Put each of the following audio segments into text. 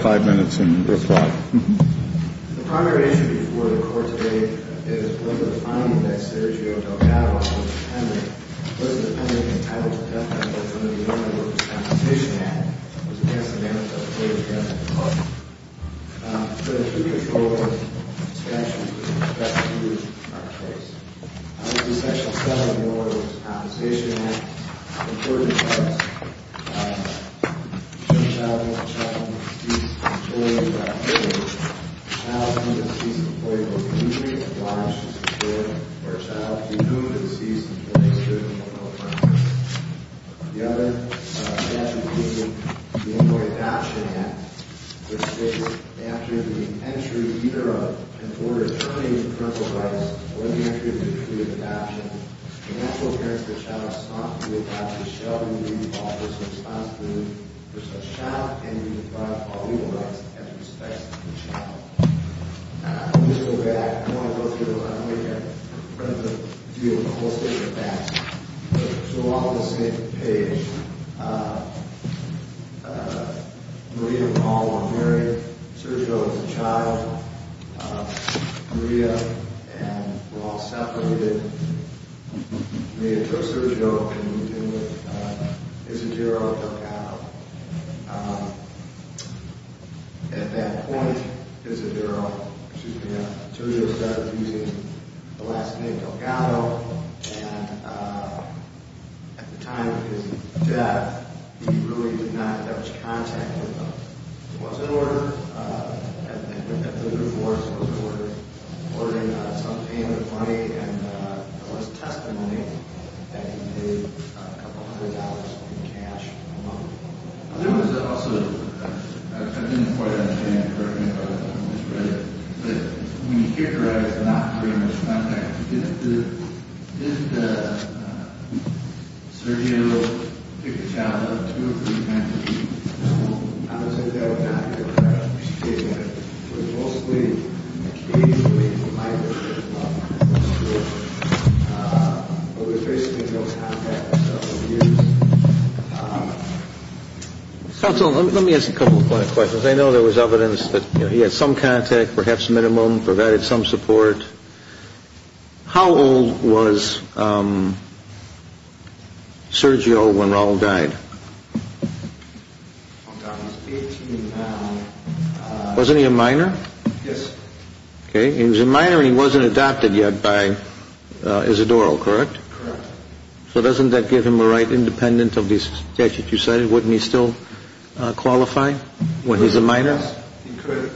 118-4349, Ravenswood Disposal Services. Requesting a take-out order. May I help you, sir? Thank you. Good morning. You have five minutes in your slot. The primary issue before the Court today is whether the finding that Sergio Delgado was a dependent, was a dependent entitled to death penalty under the Illinois Workers' Compensation Act, was against the merits of Sergio Delgado. But if you control his actions, you can expect to lose our case. The section 7 of the Illinois Workers' Compensation Act is important to us. It states that if a child is found to have deceased in a children's activity, the child is deemed a deceased employee of the country and obliged to secure for a child to be moved to deceased employees within one or more months. The other statute, the Illinois Adoption Act, which states that after the entry of either an order terminating the parental rights or the entry of the decree of adoption, the child can be deprived of all legal rights as a respect to the child. I'm just going to go back. I don't want to go through it all. I don't want you to have to deal with the whole state of the facts. So we're all on the same page. Maria and Paul were married. Sergio was a child. Maria and Paul separated. Maria took Sergio and moved him with Isidoro Delgado. At that point, Sergio started using the last name Delgado, and at the time of his death, he really did not have much contact with them. There was an order. I think it was the 34th. There was an order. Ordering some payment of money, and there was testimony that he paid a couple hundred dollars in cash a month. There was also, I didn't quite understand it correctly, but when you hear it right, it's not pretty much contact. Did Sergio pick the child up to pretend? I would say that was not the case. It was mostly occasionally provided by the school. There was basically no contact for several years. Counsel, let me ask a couple of questions. I know there was evidence that he had some contact, perhaps minimum, provided some support. How old was Sergio when Raul died? Wasn't he a minor? Yes. Okay. He was a minor, and he wasn't adopted yet by Isidoro, correct? Correct. So doesn't that give him a right independent of the statute you cited? Wouldn't he still qualify when he's a minor? Yes. He could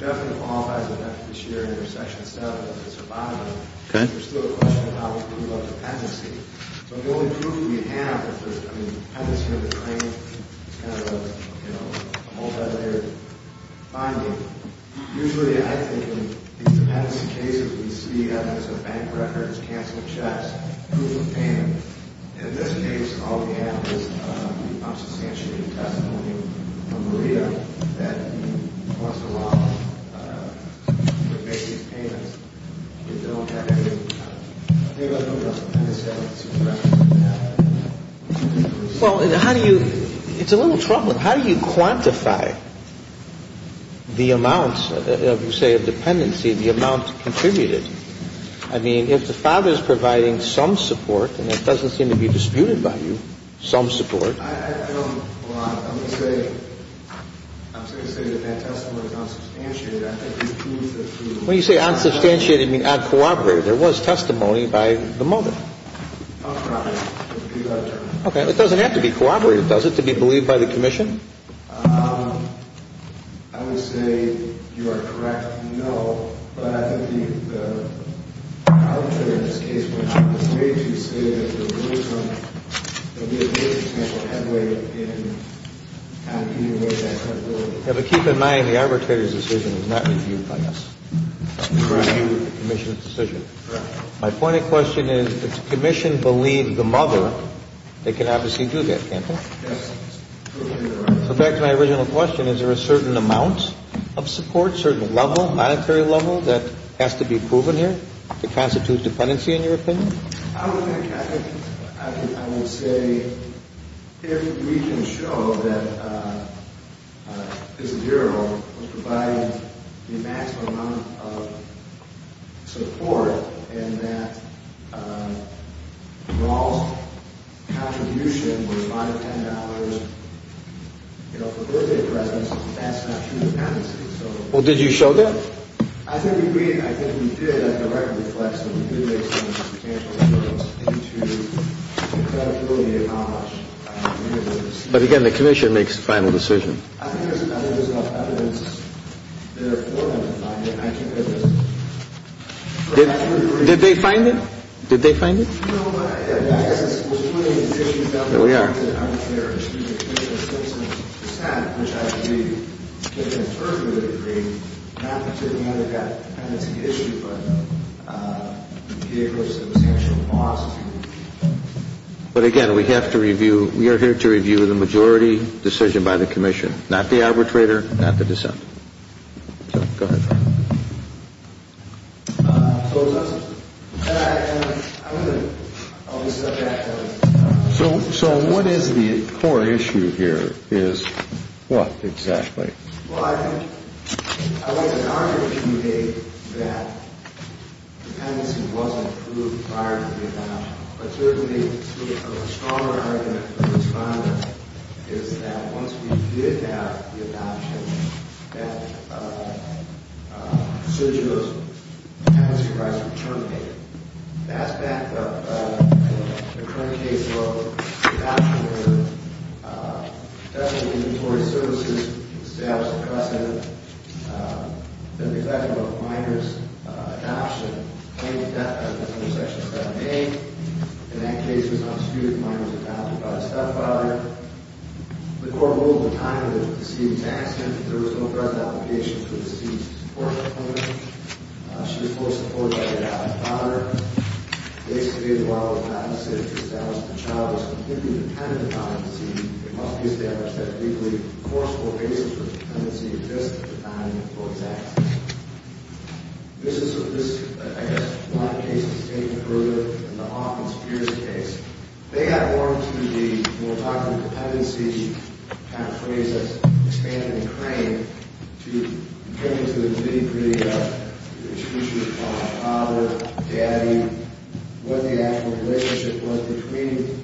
definitely qualify this year under Section 7 as a survivor. Okay. There's still a question of how we prove our dependency. So the only proof we have that the dependency of the claim is kind of a multilayered finding, usually I think in dependency cases we see evidence of bank records, canceling checks, proof of payment. In this case, all we have is the non-substantiated testimony from Maria that he was allowed to make these payments. We don't have any other evidence of dependency. Correct. Well, how do you – it's a little troubling. How do you quantify the amounts of, say, a dependency, the amount contributed? I mean, if the father is providing some support, and it doesn't seem to be disputed by you, some support. I don't – well, I would say – I'm just going to say that that testimony is non-substantiated. I think the proof that he – When you say non-substantiated, you mean non-cooperative. There was testimony by the mother. Non-cooperative. Okay. It doesn't have to be cooperative, does it, to be believed by the commission? I would say you are correct, no. But I think the arbitrator in this case would have to say to the state that there was no – that there was no headway in calculating that credibility. Yeah, but keep in mind, the arbitrator's decision was not reviewed by us. Reviewed the commission's decision. Correct. My point of question is, if the commission believed the mother, they can obviously do that, can't they? Yes. So back to my original question. Is there a certain amount of support, certain level, monetary level, that has to be proven here to constitute dependency, in your opinion? I don't think – I would say if we can show that this bureau was providing the maximum amount of support in that Raul's contribution was 5 to $10, you know, for birthday presents, that's not true dependency. Well, did you show that? I think we did. I think we did. I think the record reflects that we did make some substantial efforts due to the credibility of knowledge. But again, the commission makes the final decision. I think there's enough evidence there for them to find it. Did they find it? Did they find it? No, but I guess it's – There we are. I'm not sure. Excuse me. The commission is 60 percent, which I believe, in terms of the degree, not because we know they've got dependency issues, but because it was actually lost. But again, we have to review – we are here to review the majority decision by the commission, not the arbitrator, not the dissent. So, go ahead. So, what is the core issue here is – what exactly? Well, I think – I wouldn't argue with you, Dave, that dependency wasn't proved prior to the adoption, but certainly a stronger argument for the respondent is that once we did have the adoption, that procedure of dependency rights were terminated. Fast-back to the current case of adoption, where the Department of Inventory Services established a precedent that the executive of a minor's adoption claimed death under Section 7A. In that case, it was not disputed that the minor was adopted by the stepfather. The court ruled at the time that it was a deceived accident. There was no present application for deceased support component. She was fully supported by her father. Basically, the law was not necessary to establish that the child was completely dependent on the deceased. It must be established that legally, a forceful basis for dependency exists to define the employee's actions. This is sort of – this, I guess, is why the case is taking further than the Hawkins-Pierce case. They got more into the – when we're talking about dependency, the kind of phrase that's expanded and craned, to get into the nitty-gritty of the exclusion of father, daddy, what the actual relationship was between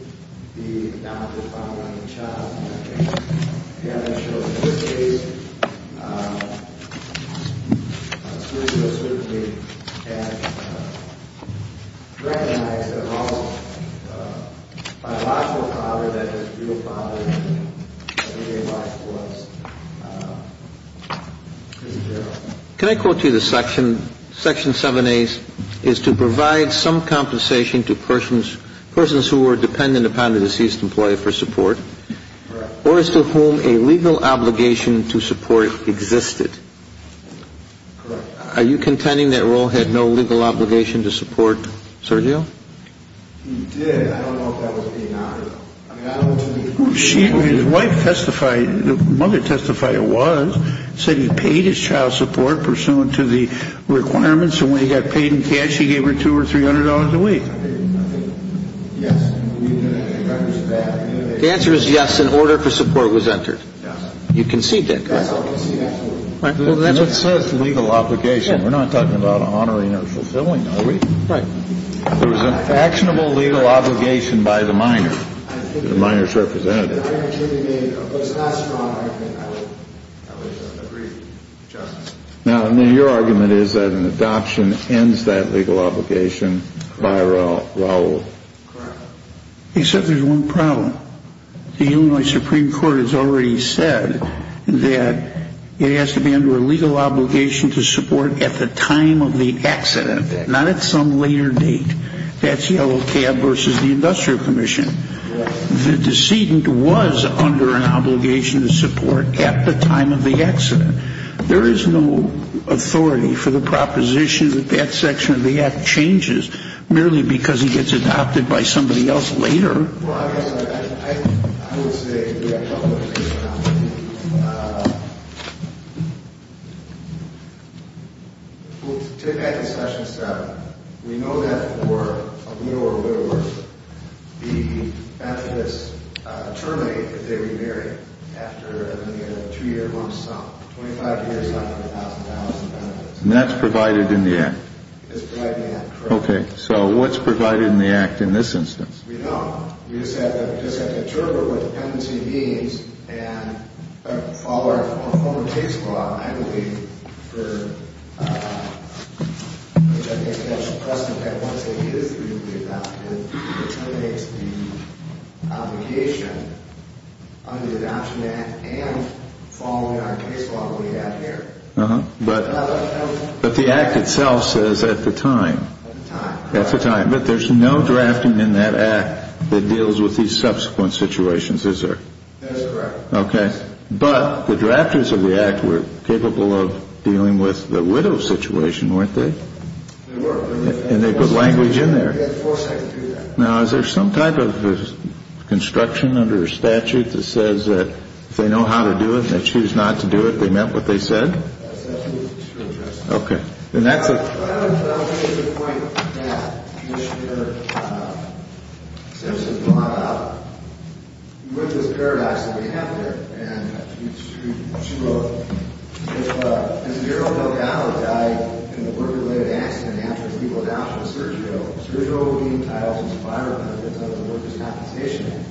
the adopted father and the child in that case. Can I quote you the section? Section 7A is to provide some compensation to persons who were dependent upon a deceased employee for support. Correct. Are you contending that Roel had no legal obligation to support Sergio? He did. I don't know if that would be an honor. I mean, I don't – His wife testified – the mother testifier was – said he paid his child support pursuant to the requirements, and when he got paid in cash, he gave her $200 or $300 a week. I think, yes. The answer is yes, in order for support. You concede that, correct? Yes, I concede that, absolutely. And it says legal obligation. We're not talking about honoring or fulfilling, are we? Right. There was an actionable legal obligation by the minor, the minor's representative. Now, your argument is that an adoption ends that legal obligation by Roel. Correct. Except there's one problem. The Illinois Supreme Court has already said that it has to be under a legal obligation to support at the time of the accident, not at some later date. That's Yellow Cab versus the Industrial Commission. The decedent was under an obligation to support at the time of the accident. There is no authority for the proposition that that section of the act changes merely because he gets adopted by somebody else later. Well, I guess I would say we have a couple of things to talk about. We'll take that to session seven. We know that for a little or little less, the benefits terminate if they remarry after a two-year lump sum, 25 years on $100,000 in benefits. And that's provided in the act? It's provided in the act, correct. Okay. So what's provided in the act in this instance? We don't. We just have to determine what dependency means and follow our former case law, I believe, for which I think that's a precedent that once it is legally adopted, it terminates the obligation under the Adoption Act and following our case law that we have here. But the act itself says at the time. At the time. At the time. But there's no drafting in that act that deals with these subsequent situations, is there? That's correct. Okay. But the drafters of the act were capable of dealing with the widow situation, weren't they? They were. And they put language in there. They had the foresight to do that. Now, is there some type of construction under a statute that says that if they know how to do it, they choose not to do it, they meant what they said? That statute is true. Okay. And that's a Well, I would say it's a point that Commissioner Simpson brought up with this paradox that we have here. And she wrote, if a zero-dollar died in a work-related accident after people died from surgery, surgery will be entitled to survivor benefits of the worker's compensation.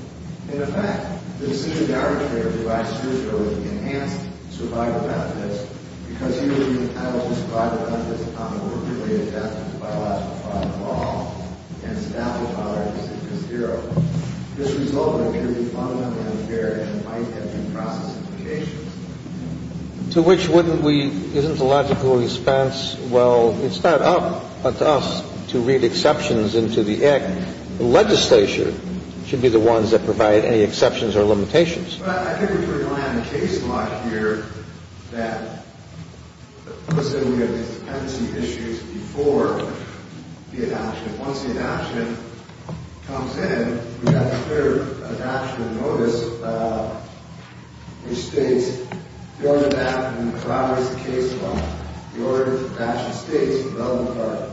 In effect, the decision of the arbitrator to buy surgery enhanced survivor benefits because he or she is entitled to survivor benefits upon a work-related death by a lawsuit by the law and the statute on our decision is zero. This result would be fundamentally unfair and might have been process implications. To which wouldn't we, isn't the logical response, well, it's not up to us to read exceptions into the act. The legislature should be the ones that provide any exceptions or limitations. But I think we should rely on the case law here that puts in these dependency issues before the adoption. Once the adoption comes in, we have a clear adoption notice which states, the order to adopt and corroborate the case law. The order of the adoption states, in the relevant part,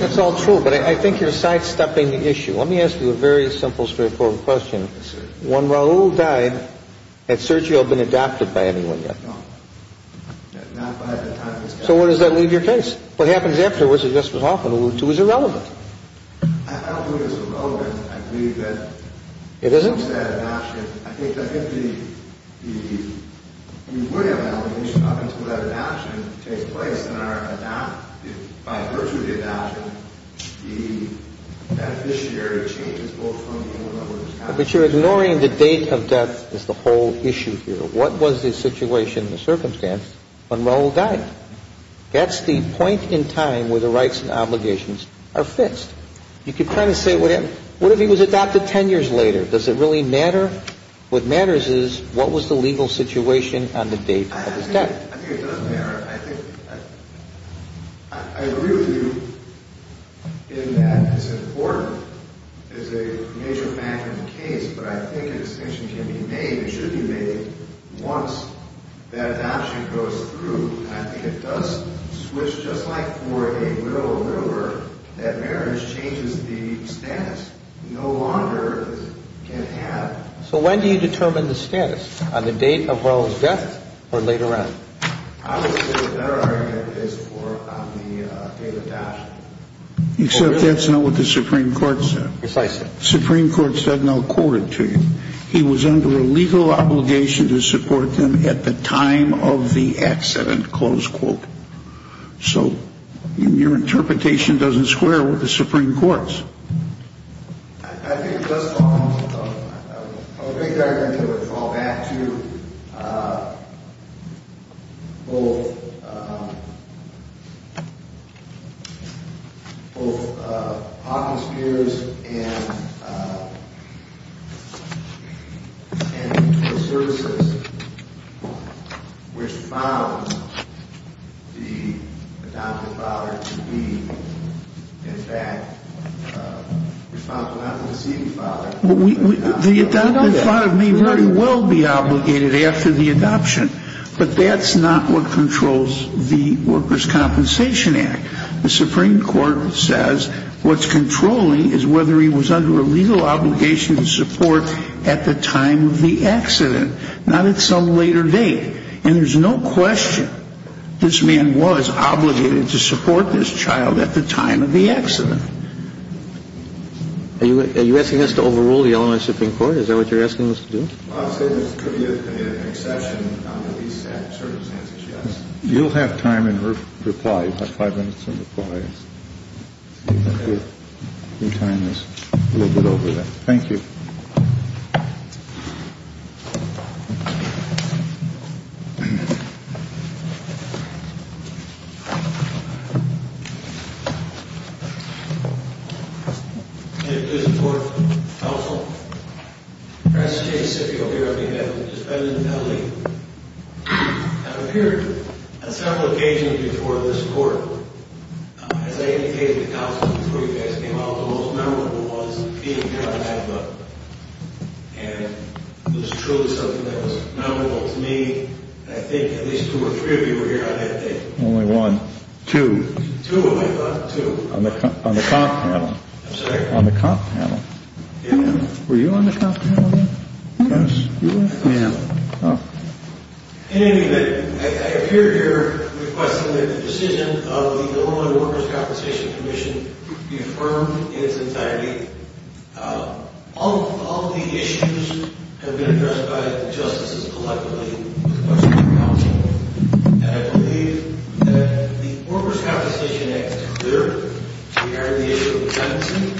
That's all true. But I think you're sidestepping the issue. Let me ask you a very simple, straightforward question. When Raul died, had Sergio been adopted by anyone yet? No. Not by the time he was adopted. So where does that leave your case? What happens afterwards, as Justice Hoffman alluded to, is irrelevant. I think it's relevant. I think it's relevant. It isn't? But you're ignoring the date of death as the whole issue here. What was the situation, the circumstance, when Raul died? That's the point in time where the rights and obligations are fixed. You could kind of say, what if he was adopted 10 years later? Does it really matter? What matters is, what was the legal situation on the date of his death? I think it does matter. I agree with you in that it's important as a major matter in the case, but I think a distinction can be made, it should be made, once that adoption goes through. I think it does switch, just like for a will or river, that marriage changes the status. You no longer can have. So when do you determine the status? On the date of Raul's death or later on? I would say the better argument is on the date of adoption. Except that's not what the Supreme Court said. Yes, I see. The Supreme Court said, and I'll quote it to you, he was under a legal obligation to support them at the time of the accident, close quote. So your interpretation doesn't square with the Supreme Court's. I think it does fall into that. I would make the argument that it would fall back to both the adoptive father may very well be obligated after the adoption, but that's not what controls the Workers' Compensation Act. The Supreme Court says what's controlling is whether he was under a legal obligation to support at the time of the accident, not at some later date. And there's no question this man was obligated to support this child at the time of the accident. Are you asking us to overrule the Illinois Supreme Court? Is that what you're asking us to do? I would say there could be an exception under these circumstances, yes. You'll have time in reply. You have five minutes in reply. Your time is a little bit over then. Thank you. Thank you. Can I please report? Counsel? Professor J. Sifio here on behalf of the defendant, Ali, has appeared on several occasions before this court. As I indicated to counsel before you guys came out, he was one of the most memorable ones to be here on behalf of. And it was truly something that was memorable to me. I think at least two or three of you were here on that day. Only one. Two. Two of them, I thought. Two. On the comp panel. I'm sorry? On the comp panel. Yeah. Were you on the comp panel then? Yes. You were? Yeah. Oh. Anyway, I appear here requesting that the decision of the Illinois Workers' Compensation Commission be affirmed in its entirety. All of the issues have been addressed by the justices collectively with the question of counsel. And I believe that the Workers' Compensation Act is clear regarding the issue of penancy.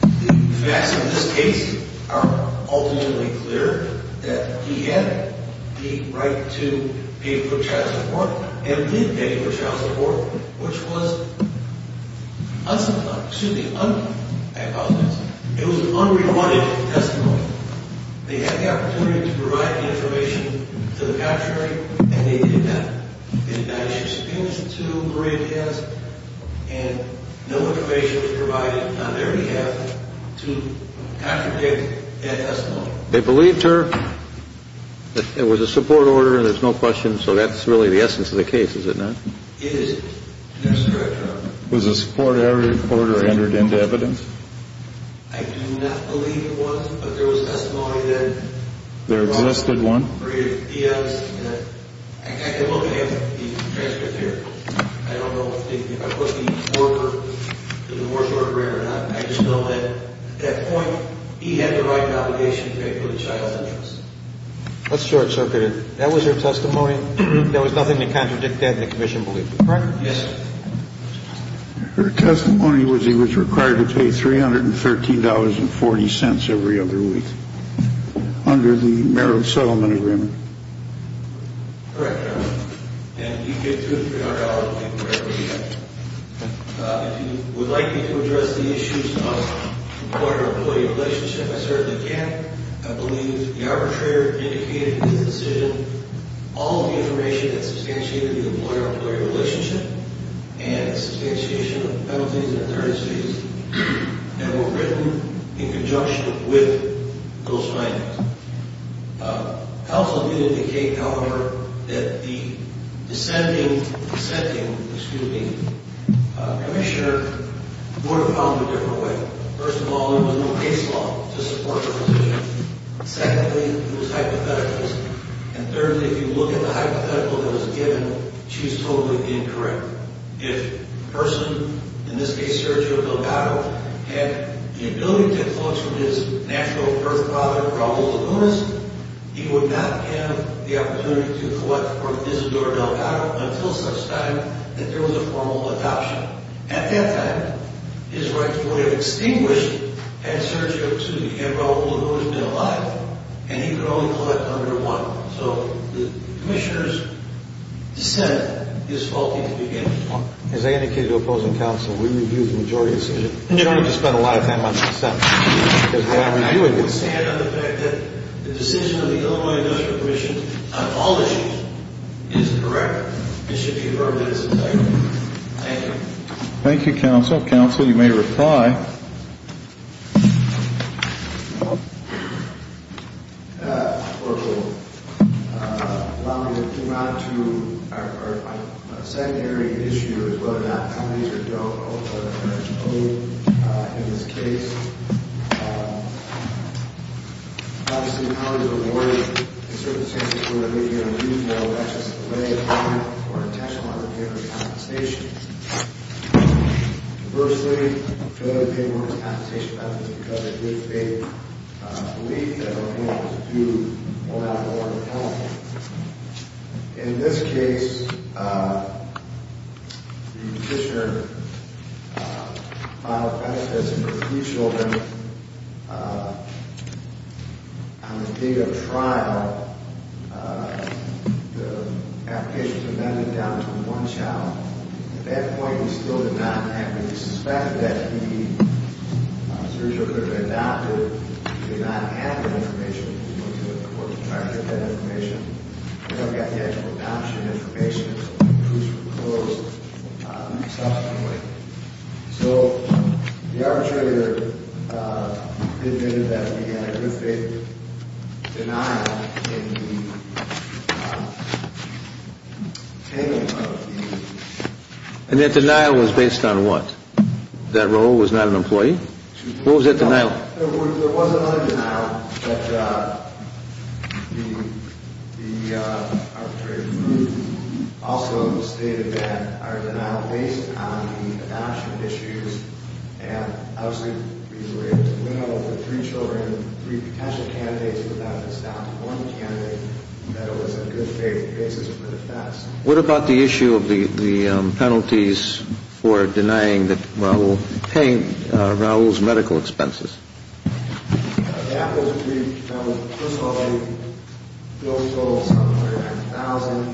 The facts in this case are ultimately clear that he had the right to pay for child support and did pay for child support, which was unsubstantiated. It was unrewarded testimony. They had the opportunity to provide the information to the contrary, and they did not. The United States Penitentiary, too, granted it to us, and no information was provided on their behalf to contradict that testimony. They believed her. It was a support order. There's no question. So that's really the essence of the case, is it not? It is. That's correct, Your Honor. Was a support order entered into evidence? I do not believe it was, but there was testimony that was provided. There existed one? Yes. I can look at the transcript here. I don't know if they put the order in the moratorium or not. I just know that, at that point, he had the right obligation to pay for the child's interest. That's short-circuited. That was her testimony? There was nothing to contradict that in the commission belief? Correct? Yes. Her testimony was he was required to pay $313.40 every other week under the Merrill Settlement Agreement. And you get $230 for every other week. If you would like me to address the issues of employer-employee relationship, I certainly can. I believe the arbitrator indicated in his decision all of the information that substantiated the employer-employee relationship and the substantiation of penalties and authorities that were written in conjunction with those findings. I also did indicate, however, that the dissenting commissioner would have found a different way. First of all, there was no case law to support her position. Secondly, it was hypothetical. And thirdly, if you look at the hypothetical that was given, she was totally incorrect. If a person, in this case Sergio Delgado, had the ability to collect from his natural birth father, Raul Lugunas, he would not have the opportunity to collect for Isidoro Delgado until such time that there was a formal adoption. At that time, his rights would have extinguished had Sergio to have Raul Lugunas been alive, and he could only collect under one. So the commissioner's dissent is faulty to begin with. As I indicated to opposing counsel, we reviewed the majority decision. You don't have to spend a lot of time on dissent. I don't understand the fact that the decision of the Illinois Industrial Commission on all issues is incorrect. It should be heard in its entirety. Thank you. Thank you, counsel. Counsel, you may reply. Thank you, counsel. Allow me to come out to our secondary issue as to whether or not companies are eligible in this case. Obviously, the colleagues are worried in certain cases where they get a refill, that's just a delay of time or intentional underpayment of compensation. Conversely, they want compensation because it gives them a belief that what they want to do will not go on at all. In this case, the commissioner filed a benefit for three children. On the date of the trial, the application was amended down to one child. At that point, we still did not have it. We suspected that he was originally going to adopt it. We did not have that information. We went to the courts to try to get that information. We don't have the actual adoption information. It was proposed subsequently. So the arbitrator admitted that we had a good faith denial in the handling of the issue. And that denial was based on what? That Rahul was not an employee? What was that denial? There was another denial, but the arbitrator also stated that our denial was based on the adoption issues. And, obviously, we were able to win over three children, three potential candidates, without it stopping one candidate, that it was a good faith basis for the facts. What about the issue of the penalties for denying that Rahul, paying Rahul's medical expenses? The apples would be, Rahul, first of all, he owes a total of $700,000.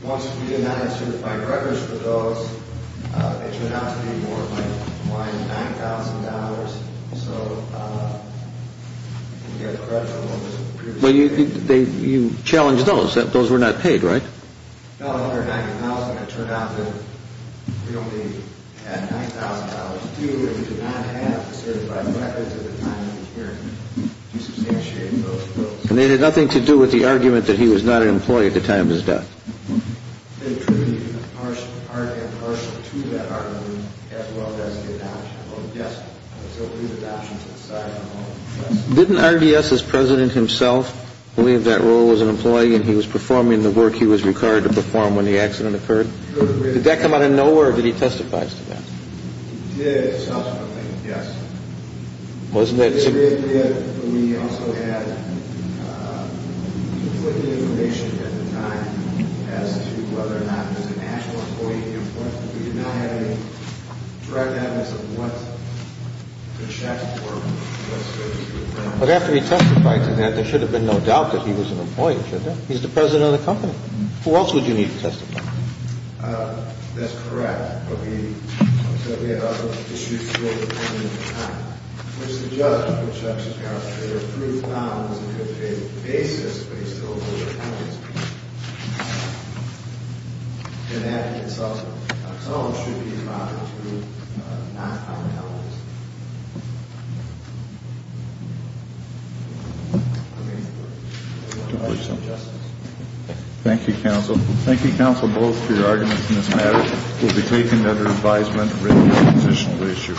He wants to be denied certified records for those. They turn out to be more like $1,000, $9,000. Well, you challenged those. Those were not paid, right? No, $190,000. It turned out that we only had $9,000 due, and we did not have certified records at the time of the hearing to substantiate those. And they had nothing to do with the argument that he was not an employee at the time of his death? They treated him impartially to that argument, as well as the adoption. Yes. Didn't RDS, as president himself, believe that Rahul was an employee and he was performing the work he was required to perform when the accident occurred? Did that come out of nowhere, or did he testify to that? He did, subsequently, yes. He did, but we also had conflicting information at the time as to whether or not he was an actual employee. We did not have any direct evidence of what the checks were. But after he testified to that, there should have been no doubt that he was an employee, should there? He's the president of the company. Who else would you need to testify? That's correct. But we said we had other issues to deal with at the time. Which the judge, which I'm sure you're aware of, proved not. He was an employee on a specific basis, but he still had a lot of evidence. And that in itself should be a problem, too, not common evidence. Thank you, counsel. Thank you, counsel, both for your arguments in this matter. It will be taken under advisement and written in the transitional ratio.